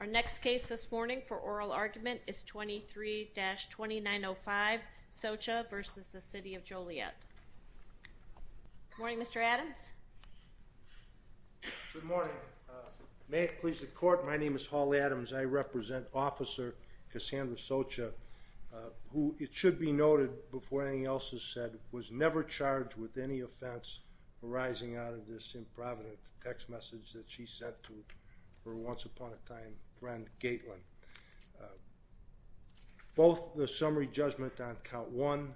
Our next case this morning for oral argument is 23-2905 Socha v. City of Joliet. Good morning Mr. Adams. Good morning. May it please the court, my name is Hall Adams. I represent Officer Cassandra Socha, who it should be noted before anything else is said, was never charged with any offense arising out of this for a once upon a time friend, Gateland. Both the summary judgment on count 1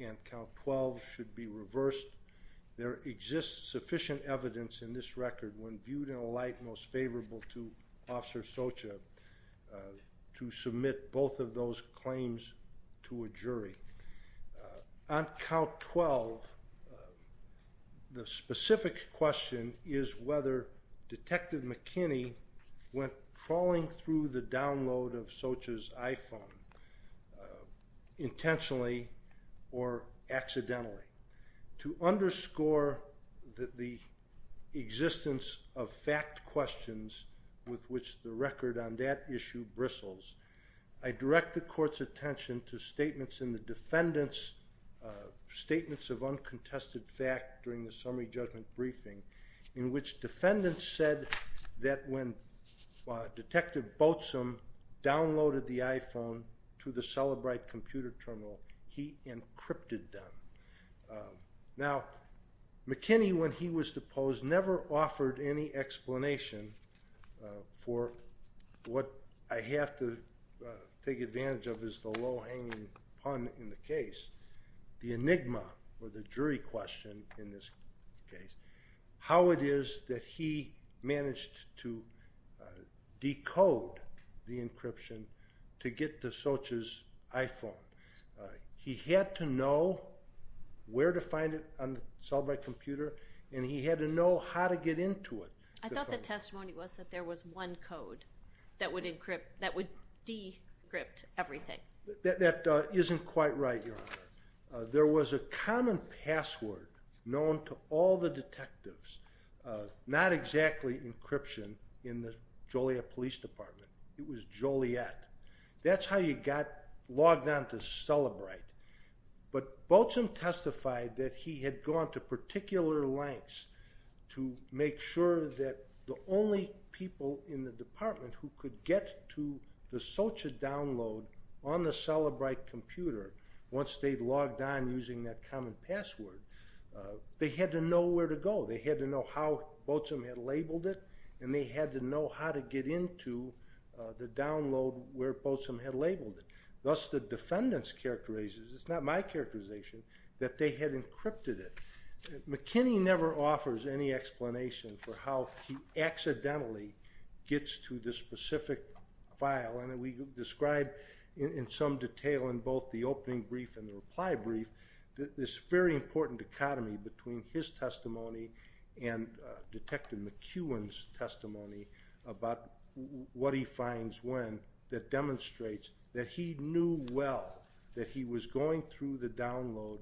and count 12 should be reversed. There exists sufficient evidence in this record when viewed in a light most favorable to Officer Socha to submit both of those claims to a jury. On count 12, the specific question is whether Detective McKinney went trawling through the download of Socha's iPhone intentionally or accidentally. To underscore the existence of fact questions with which the record on that issue bristles, I direct the court's attention to statements of uncontested fact during the summary judgment briefing in which defendants said that when Detective Boatswain downloaded the iPhone to the Celebrite computer terminal, he encrypted them. Now, McKinney, when he was deposed, never offered any explanation for what I have to take advantage of as the low-hanging pun in the case, the enigma or the jury question in this case, how it is that he managed to decode the encryption to get to Socha's iPhone. He had to know where to find it on the Celebrite computer, and he had to know how to get into it. I thought the testimony was that there was one code that would decrypt everything. That isn't quite right, Your Honor. There was a common password known to all the detectives, not exactly encryption in the Joliet Police Department. It was Joliet. That's how you got logged on to Celebrite. But Boatswain testified that he had gone to particular lengths to make sure that the only people in the department who could get to the Socha download on the Celebrite computer, once they'd logged on using that common password, they had to know where to go. They had to know how Boatswain had labeled it, and they had to know how to get into the download where Boatswain had labeled it. Thus, the defendant's characterization, it's not my characterization, that they had encrypted it. McKinney never offers any explanation for how he accidentally gets to this specific file, and we describe in some detail in both the opening brief and the reply brief this very important dichotomy between his testimony and Detective McEwen's testimony about what he finds when that demonstrates that he knew well that he was going through the download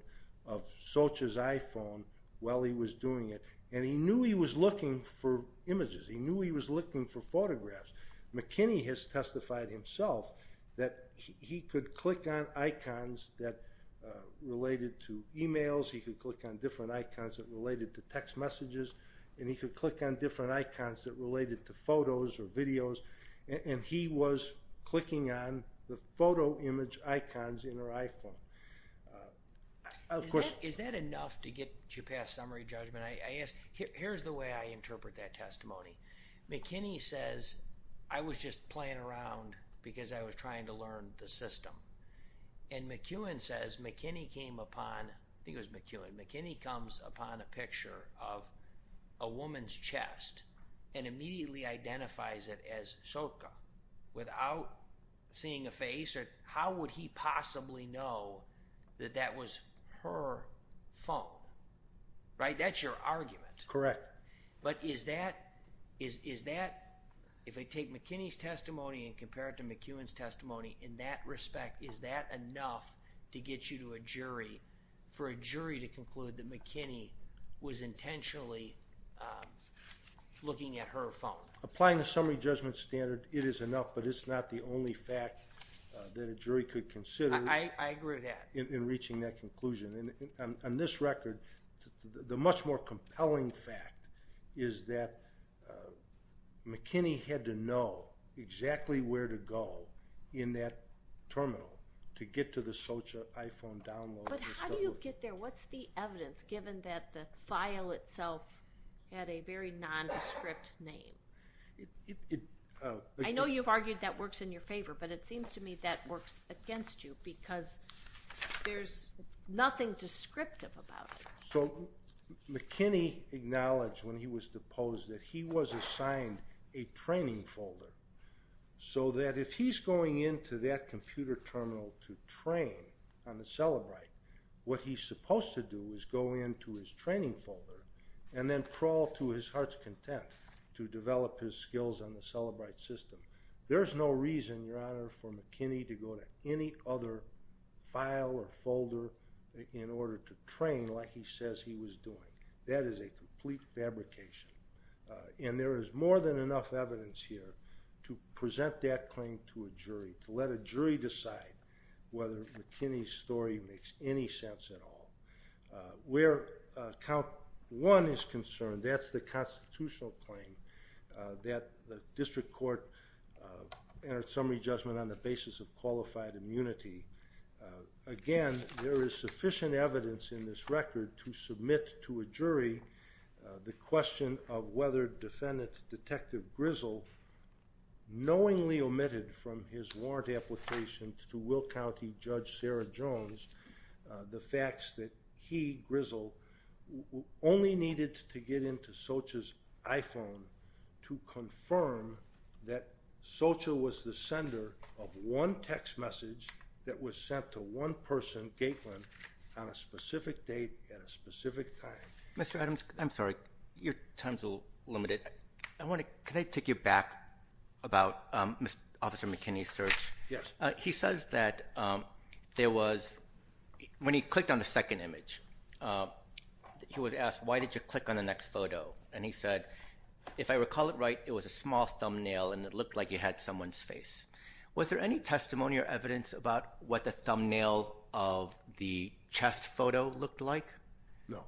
of Socha's iPhone while he was doing it, and he knew he was looking for images. He knew he was looking for photographs. McKinney has testified himself that he could click on icons that related to emails, he could click on different icons that related to text messages, and he could click on different icons that related to photos or videos, and he was clicking on the photo image icons in her iPhone. Is that enough to get you past summary judgment? Here's the way I interpret that testimony. McKinney says, I was just playing around because I was trying to learn the system, and McEwen says McKinney came upon, I think it was McEwen, McKinney comes upon a picture of a woman's chest and immediately identifies it as Socha without seeing a face or how would he possibly know that that was her phone, right? That's your argument. Correct. But is that, if I take McKinney's testimony and compare it to McEwen's testimony, in that respect, is that enough to get you to a jury for a jury to conclude that McKinney was intentionally looking at her phone? Applying the summary judgment standard, it is enough, but it's not the only fact that a jury could consider in reaching that conclusion. I agree with that. On this record, the much more compelling fact is that McKinney had to know exactly where to go in that terminal to get to the Socha iPhone download. But how do you get there? What's the evidence given that the file itself had a very nondescript name? I know you've argued that works in your favor, but it seems to me that works against you because there's nothing descriptive about it. So McKinney acknowledged when he was deposed that he was assigned a training folder so that if he's going into that computer terminal to train on the Celebrite, what he's supposed to do is go into his training folder and then crawl to his heart's content to develop his skills on the Celebrite system. There's no reason, Your Honor, for McKinney to go to any other file or folder in order to train like he says he was doing. That is a complete fabrication. And there is more than enough evidence here to present that claim to a jury, to let a jury decide whether McKinney's story makes any sense at all. Where count one is concerned, that's the constitutional claim that the district court entered summary judgment on the basis of qualified immunity. Again, there is sufficient evidence in this record to submit to a jury the question of whether Defendant Detective Grizzle knowingly omitted from his warrant application to Will County Judge Sarah Jones the facts that he, Grizzle, only needed to get into Socha's iPhone to confirm that Socha was the sender of one text message that was sent to one person, Gateland, on a specific date at a specific time. Mr. Adams, I'm sorry. Your time is a little limited. Can I take you back about Officer McKinney's search? Yes. He says that there was, when he clicked on the second image, he was asked, why did you click on the next photo? And he said, if I recall it right, it was a small thumbnail and it looked like it had someone's face. Was there any testimony or evidence about what the thumbnail of the chest photo looked like? No.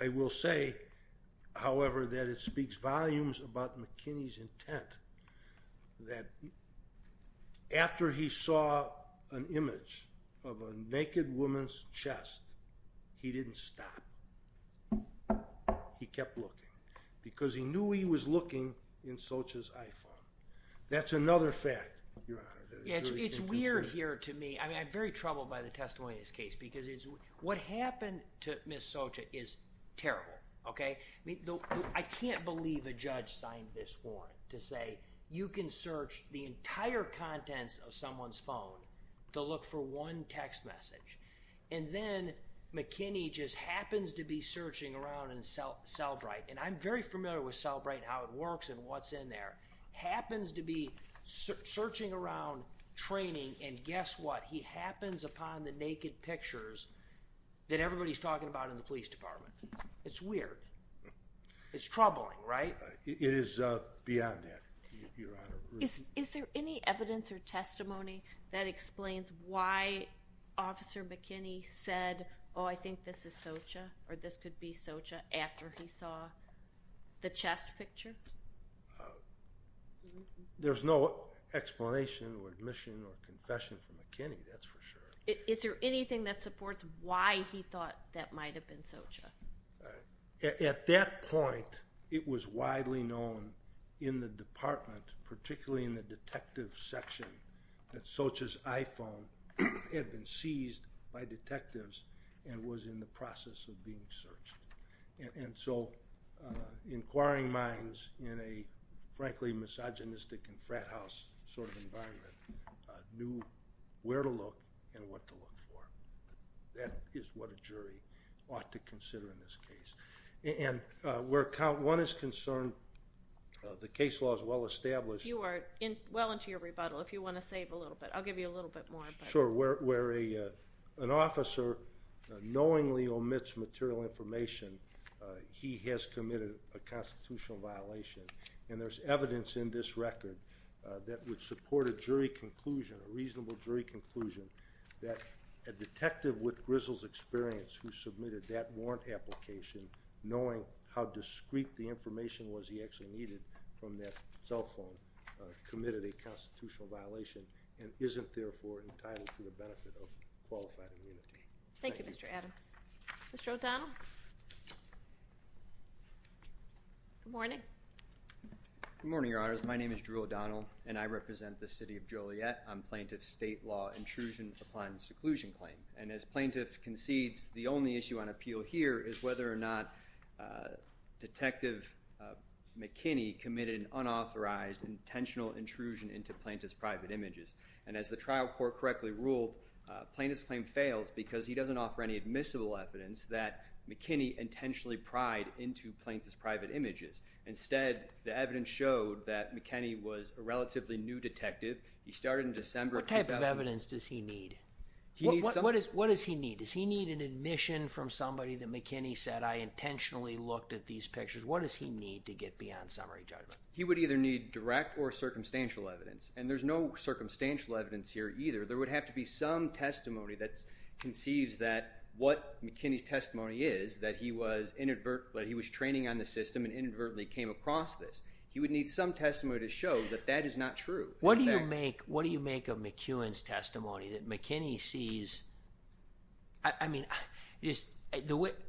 I will say, however, that it speaks volumes about McKinney's intent that after he saw an image of a naked woman's chest, he didn't stop. He kept looking because he knew he was looking in Socha's iPhone. That's another fact, Your Honor. It's weird here to me. I'm very troubled by the testimony in this case because what happened to Ms. Socha is terrible. I can't believe a judge signed this warrant to say, you can search the entire contents of someone's phone to look for one text message, and then McKinney just happens to be searching around in Cellbrite, and I'm very familiar with Cellbrite and how it works and what's in there, happens to be searching around training, and guess what? He happens upon the naked pictures that everybody's talking about in the police department. It's weird. It's troubling, right? It is beyond that, Your Honor. Is there any evidence or testimony that explains why Officer McKinney said, oh, I think this is Socha or this could be Socha after he saw the chest picture? There's no explanation or admission or confession from McKinney, that's for sure. Is there anything that supports why he thought that might have been Socha? At that point, it was widely known in the department, particularly in the detective section, that Socha's iPhone had been seized by detectives and was in the process of being searched. And so inquiring minds in a, frankly, misogynistic and frat house sort of environment knew where to look and what to look for. That is what a jury ought to consider in this case. And where one is concerned, the case law is well established. You are well into your rebuttal if you want to save a little bit. I'll give you a little bit more. Sure. Where an officer knowingly omits material information, he has committed a constitutional violation, and there's evidence in this record that would support a jury conclusion, a reasonable jury conclusion, that a detective with grizzled experience who submitted that warrant application, knowing how discreet the information was he actually needed from that cell phone, committed a constitutional violation and isn't therefore entitled to the benefit of qualified immunity. Thank you, Mr. Adams. Mr. O'Donnell? Good morning. Good morning, Your Honors. My name is Drew O'Donnell, and I represent the city of Joliet. I'm plaintiff's state law intrusion upon seclusion claim. And as plaintiff concedes, the only issue on appeal here is whether or not Detective McKinney committed an unauthorized, intentional intrusion into plaintiff's private images. And as the trial court correctly ruled, plaintiff's claim fails because he doesn't offer any admissible evidence that McKinney intentionally pried into plaintiff's private images. Instead, the evidence showed that McKinney was a relatively new detective. He started in December of 2000. What type of evidence does he need? What does he need? Does he need an admission from somebody that McKinney said, I intentionally looked at these pictures? What does he need to get beyond summary judgment? He would either need direct or circumstantial evidence, and there's no circumstantial evidence here either. There would have to be some testimony that conceives that what McKinney's testimony is, that he was training on the system and inadvertently came across this. He would need some testimony to show that that is not true. What do you make of McKinney's testimony, that McKinney sees? I mean,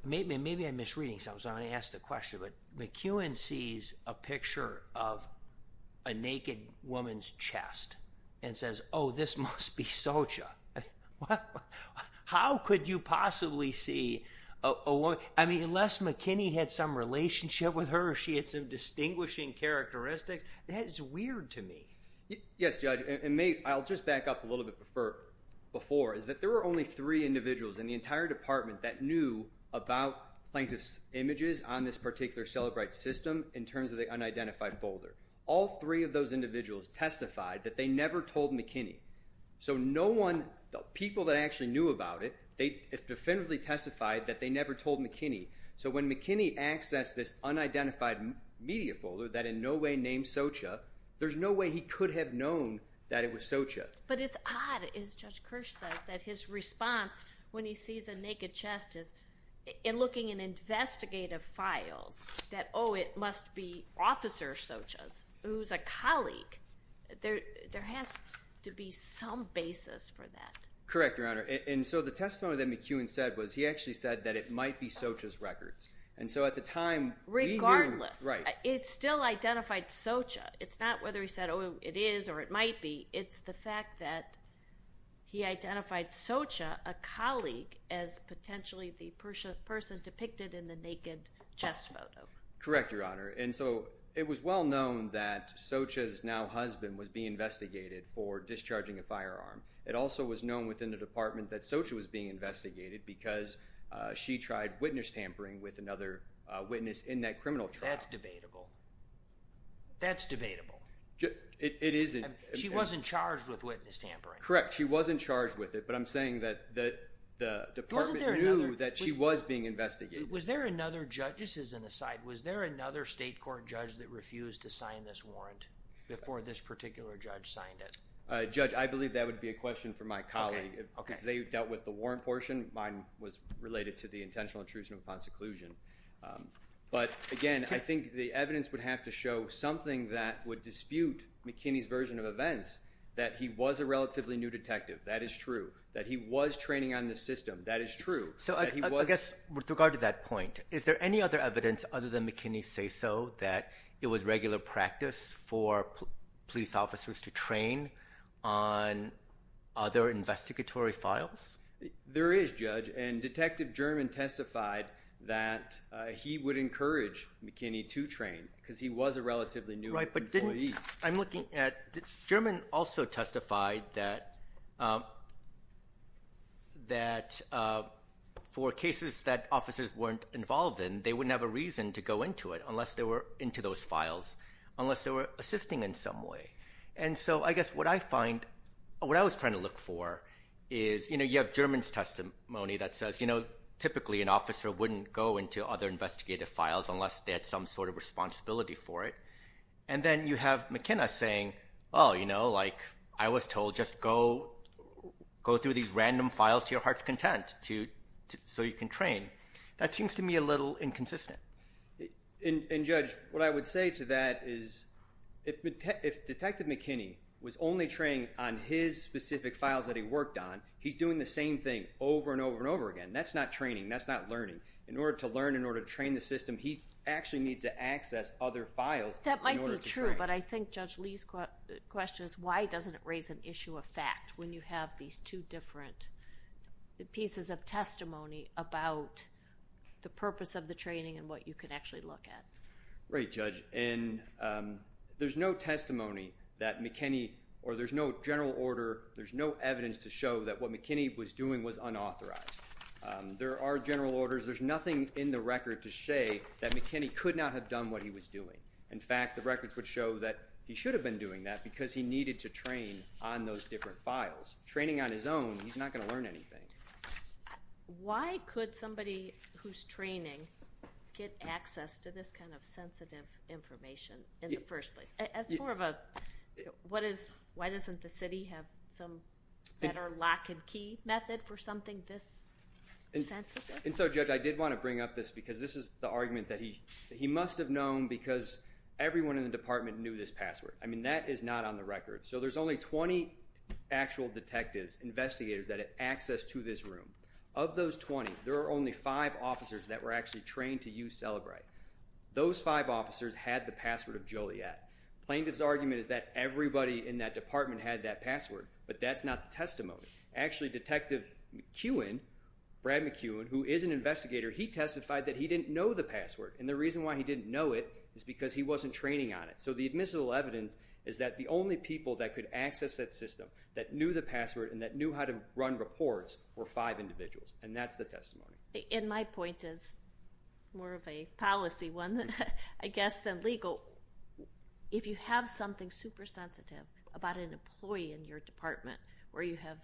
maybe I'm misreading something, so I'm going to ask the question. McKinney sees a picture of a naked woman's chest and says, oh, this must be Socha. How could you possibly see a woman? I mean, unless McKinney had some relationship with her or she had some distinguishing characteristics, that is weird to me. Yes, Judge, and I'll just back up a little bit before, is that there were only three individuals in the entire department that knew about plaintiff's images on this particular Celebrite system in terms of the unidentified folder. All three of those individuals testified that they never told McKinney. So no one, the people that actually knew about it, they definitively testified that they never told McKinney. So when McKinney accessed this unidentified media folder that in no way named Socha, there's no way he could have known that it was Socha. But it's odd, as Judge Kirsch says, that his response when he sees a naked chest is, in looking in investigative files, that, oh, it must be Officer Socha's, who's a colleague. There has to be some basis for that. Correct, Your Honor, and so the testimony that McKeown said was he actually said that it might be Socha's records. And so at the time, we knew. Regardless, it still identified Socha. It's not whether he said, oh, it is or it might be. It's the fact that he identified Socha, a colleague, as potentially the person depicted in the naked chest photo. Correct, Your Honor, and so it was well known that Socha's now husband was being investigated for discharging a firearm. It also was known within the department that Socha was being investigated because she tried witness tampering with another witness in that criminal trial. That's debatable. That's debatable. It isn't. She wasn't charged with witness tampering. Correct, she wasn't charged with it, but I'm saying that the department knew that she was being investigated. Was there another judge, just as an aside, was there another state court judge that refused to sign this warrant before this particular judge signed it? Judge, I believe that would be a question for my colleague because they dealt with the warrant portion. Mine was related to the intentional intrusion upon seclusion. But again, I think the evidence would have to show something that would dispute McKinney's version of events, that he was a relatively new detective. That is true, that he was training on this system. That is true. I guess with regard to that point, is there any other evidence other than McKinney's say-so that it was regular practice for police officers to train on other investigatory files? There is, Judge, and Detective German testified that he would encourage McKinney to train because he was a relatively new employee. I'm looking at, German also testified that for cases that officers weren't involved in, they wouldn't have a reason to go into it unless they were into those files, unless they were assisting in some way. And so I guess what I find, what I was trying to look for is, you know, you have German's testimony that says, you know, typically an officer wouldn't go into other investigative files unless they had some sort of responsibility for it. And then you have McKinney saying, oh, you know, like I was told, just go through these random files to your heart's content so you can train. That seems to me a little inconsistent. And Judge, what I would say to that is, if Detective McKinney was only training on his specific files that he worked on, he's doing the same thing over and over and over again. That's not training, that's not learning. In order to learn, in order to train the system, he actually needs to access other files in order to train. That might be true, but I think Judge Lee's question is, why doesn't it raise an issue of fact when you have these two different pieces of testimony about the purpose of the training and what you can actually look at? Right, Judge. And there's no testimony that McKinney, or there's no general order, there's no evidence to show that what McKinney was doing was unauthorized. There are general orders. There's nothing in the record to say that McKinney could not have done what he was doing. In fact, the records would show that he should have been doing that because he needed to train on those different files. Training on his own, he's not going to learn anything. Why could somebody who's training get access to this kind of sensitive information in the first place? That's more of a, why doesn't the city have some better lock and key method for something this sensitive? And so, Judge, I did want to bring up this because this is the argument that he must have known because everyone in the department knew this password. I mean, that is not on the record. So there's only 20 actual detectives, investigators, that have access to this room. Of those 20, there are only five officers that were actually trained to use Cellebrite. Those five officers had the password of Joliet. Plaintiff's argument is that everybody in that department had that password, but that's not the testimony. Actually, Detective McEwen, Brad McEwen, who is an investigator, he testified that he didn't know the password, and the reason why he didn't know it is because he wasn't training on it. So the admissible evidence is that the only people that could access that system, that knew the password, and that knew how to run reports were five individuals, and that's the testimony. And my point is more of a policy one, I guess, than legal. If you have something super sensitive about an employee in your department where you have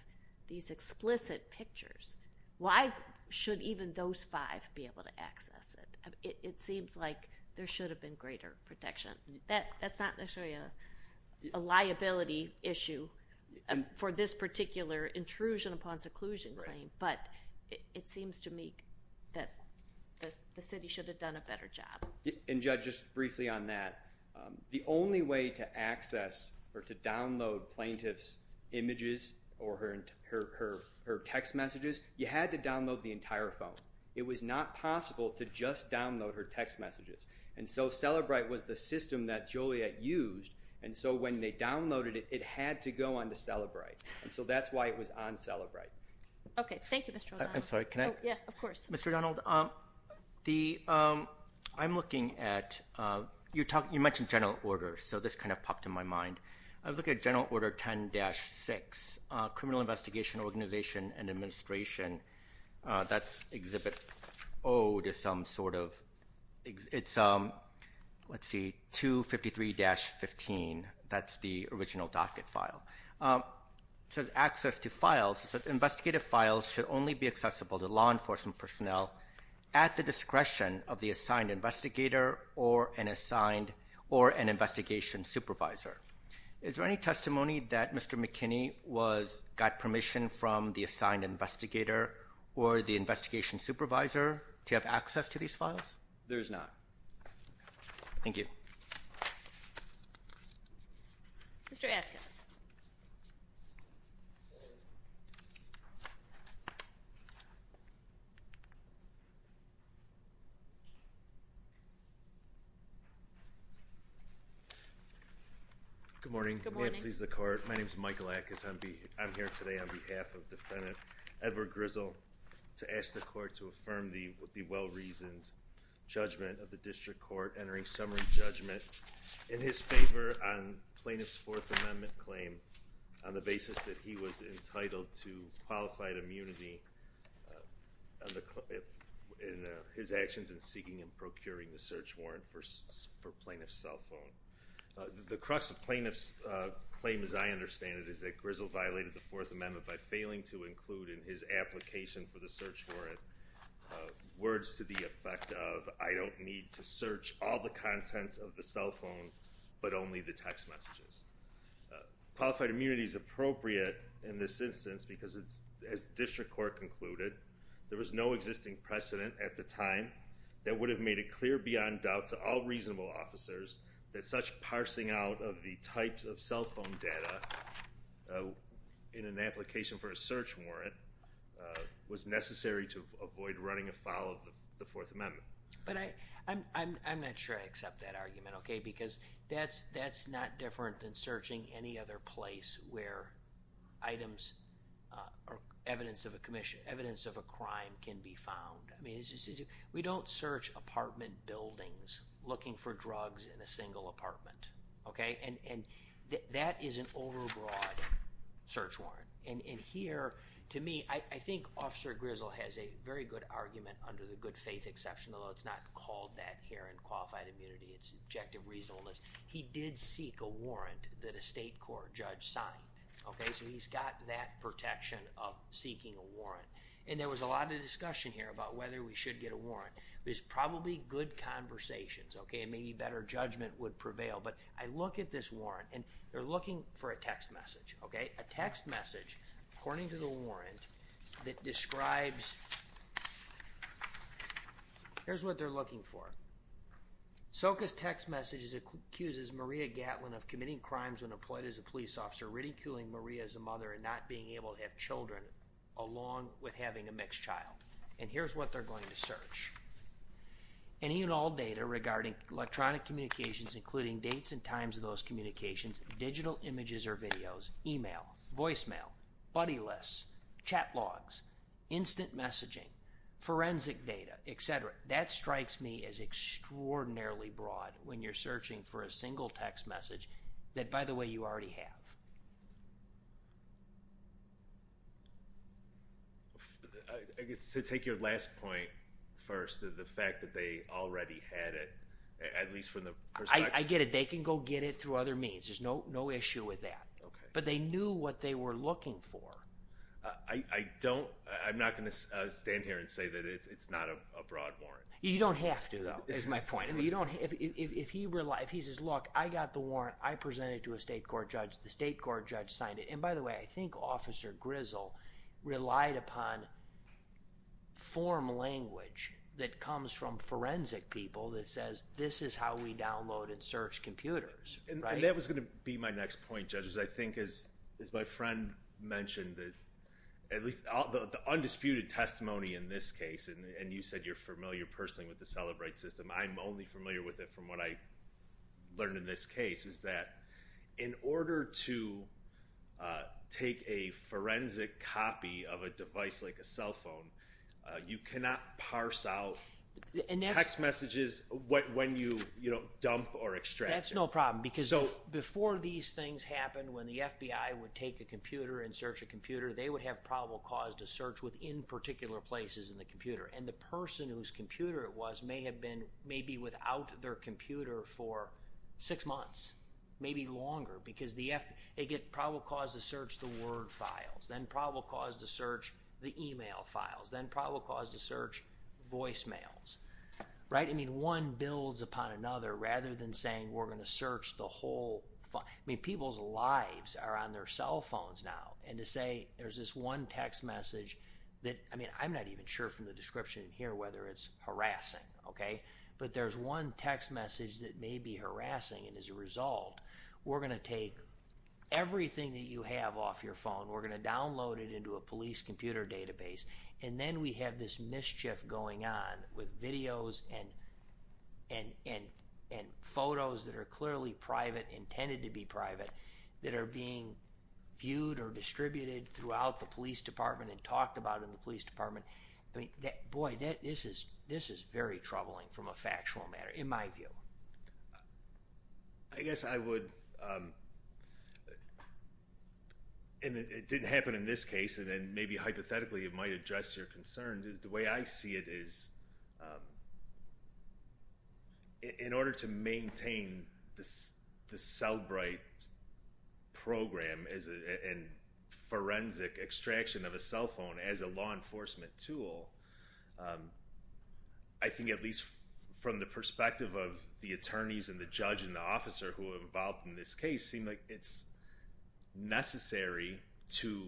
these explicit pictures, why should even those five be able to access it? It seems like there should have been greater protection. That's not necessarily a liability issue for this particular intrusion upon seclusion claim, but it seems to me that the city should have done a better job. And Judge, just briefly on that, the only way to access or to download a plaintiff's images or her text messages, you had to download the entire phone. It was not possible to just download her text messages, and so Celebrite was the system that Joliet used, and so when they downloaded it, it had to go onto Celebrite, and so that's why it was on Celebrite. Okay, thank you, Mr. O'Donnell. I'm sorry, can I? Yeah, of course. Mr. O'Donnell, I'm looking at... You mentioned general orders, so this kind of popped in my mind. I was looking at General Order 10-6, Criminal Investigation Organization and Administration. That's Exhibit O to some sort of... It's, let's see, 253-15. That's the original docket file. It says access to files, investigative files should only be accessible to law enforcement personnel at the discretion of the assigned investigator or an investigation supervisor. Is there any testimony that Mr. McKinney got permission from the assigned investigator or the investigation supervisor to have access to these files? There is not. Thank you. Mr. Atkins. Good morning. Good morning. May it please the Court, my name is Michael Atkins. I'm here today on behalf of Defendant Edward Grizzle to ask the Court to affirm the well-reasoned judgment of the District Court entering summary judgment in his favor on Plaintiff's Fourth Amendment claim on the basis that he was entitled to qualified immunity in his actions in seeking and procuring the search warrant for Plaintiff's cell phone. The crux of Plaintiff's claim, as I understand it, is that Grizzle violated the Fourth Amendment by failing to include in his application for the search warrant words to the effect of, I don't need to search all the contents of the cell phone but only the text messages. Qualified immunity is appropriate in this instance because as the District Court concluded, there was no existing precedent at the time that would have made it clear beyond doubt to all reasonable officers that such parsing out of the types of cell phone data in an application for a search warrant was necessary to avoid running afoul of the Fourth Amendment. But I'm not sure I accept that argument, okay, because that's not different than searching any other place where evidence of a crime can be found. I mean, we don't search apartment buildings looking for drugs in a single apartment, okay? And that is an overbroad search warrant. And here, to me, I think Officer Grizzle has a very good argument under the good faith exception, although it's not called that here in qualified immunity. It's objective reasonableness. He did seek a warrant that a state court judge signed, okay? So he's got that protection of seeking a warrant. And there was a lot of discussion here about whether we should get a warrant. There's probably good conversations, okay, and maybe better judgment would prevail. But I look at this warrant, and they're looking for a text message, okay? A text message, according to the warrant, that describes... Here's what they're looking for. Soka's text message accuses Maria Gatlin of committing crimes when employed as a police officer, ridiculing Maria as a mother and not being able to have children along with having a mixed child. And here's what they're going to search. Any and all data regarding electronic communications, including dates and times of those communications, digital images or videos, email, voicemail, buddy lists, chat logs, instant messaging, forensic data, etc. That strikes me as extraordinarily broad when you're searching for a single text message that, by the way, you already have. I guess to take your last point first, the fact that they already had it, at least from the perspective... I get it. They can go get it through other means. There's no issue with that. But they knew what they were looking for. I don't... I'm not going to stand here and say that it's not a broad warrant. You don't have to, though, is my point. If he says, look, I got the warrant. I presented it to a state court judge. The state court judge signed it. And by the way, I think Officer Grizzle relied upon form language that comes from forensic people that says this is how we download and search computers. And that was going to be my next point, judges. I think, as my friend mentioned, at least the undisputed testimony in this case, and you said you're familiar personally with the Celebrate system. I'm only familiar with it from what I learned in this case, is that in order to take a forensic copy of a device like a cell phone, you cannot parse out text messages when you dump or extract it. That's no problem. Because before these things happened, when the FBI would take a computer and search a computer, they would have probable cause to search within particular places in the computer. And the person whose computer it was may have been maybe without their computer for six months, maybe longer, because they get probable cause to search the Word files, then probable cause to search the email files, then probable cause to search voicemails. I mean, one builds upon another rather than saying we're going to search the whole file. I mean, people's lives are on their cell phones now. And to say there's this one text message that, I mean, I'm not even sure from the description here whether it's harassing, okay? But there's one text message that may be harassing, and as a result, we're going to take everything that you have off your phone, we're going to download it into a police computer database, and then we have this mischief going on with videos and photos that are clearly private, intended to be private, that are being viewed or distributed throughout the police department and talked about in the police department. I mean, boy, this is very troubling from a factual matter, in my view. I guess I would... And it didn't happen in this case, and then maybe hypothetically it might address your concerns, is the way I see it is... In order to maintain the Cellbrite program and forensic extraction of a cell phone as a law enforcement tool, I think at least from the perspective of the attorneys and the judge and the officer who have evolved in this case, seemed like it's necessary to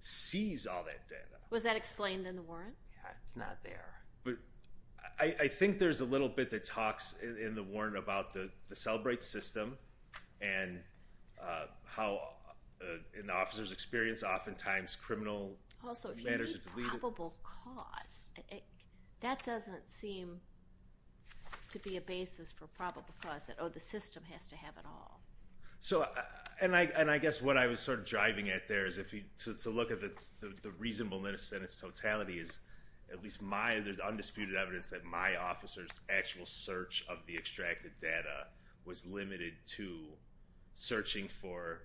seize all that data. Was that explained in the warrant? It's not there. I think there's a little bit that talks in the warrant about the Cellbrite system and how an officer's experience oftentimes criminal matters... Also, if you need probable cause, that doesn't seem to be a basis for probable cause, that, oh, the system has to have it all. And I guess what I was sort of driving at there is to look at the reasonableness and its totality is at least there's undisputed evidence that my officer's actual search of the extracted data was limited to searching for,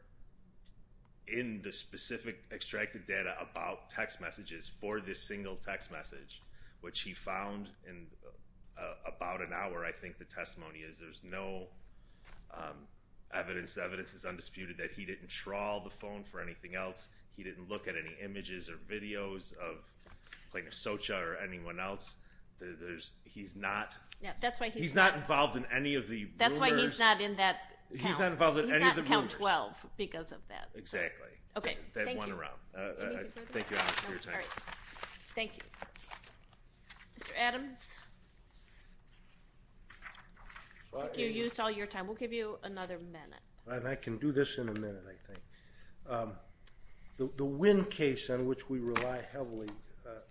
in the specific extracted data, about text messages for this single text message, which he found in about an hour. I think the testimony is there's no evidence. The evidence is undisputed that he didn't trawl the phone for anything else. He didn't look at any images or videos of Plaintiff Socha or anyone else. He's not involved in any of the rumors. That's why he's not in that count. He's not involved in any of the rumors. He's not in count 12 because of that. Exactly. Okay, thank you. Thank you all for your time. Thank you. Mr. Adams? You used all your time. We'll give you another minute. I can do this in a minute, I think. The Winn case, on which we rely heavily,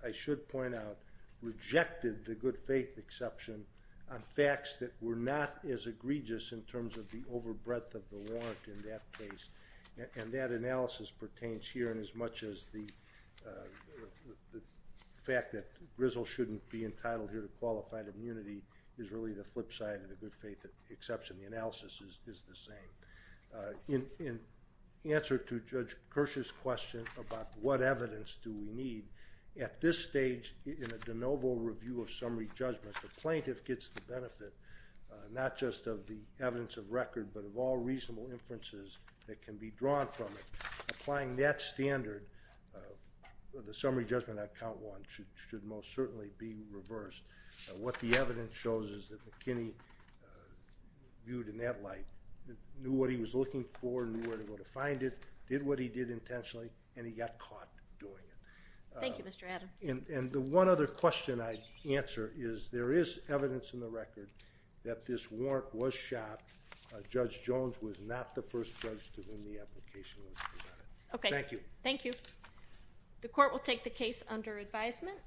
I should point out, rejected the good faith exception on facts that were not as egregious in terms of the overbreadth of the warrant in that case. And that analysis pertains here in as much as the fact that Grizzle shouldn't be entitled here to qualified immunity is really the flip side of the good faith exception. The analysis is the same. In answer to Judge Kirsch's question about what evidence do we need, at this stage in a de novo review of summary judgment, the plaintiff gets the benefit not just of the evidence of record but of all reasonable inferences that can be drawn from it. Applying that standard, the summary judgment on count one should most certainly be reversed. What the evidence shows is that McKinney, viewed in that light, knew what he was looking for, knew where to go to find it, did what he did intentionally, and he got caught doing it. Thank you, Mr. Adams. And the one other question I'd answer is there is evidence in the record that this warrant was shot. Judge Jones was not the first judge to win the application list. Okay. Thank you. The court will take the case under advisement.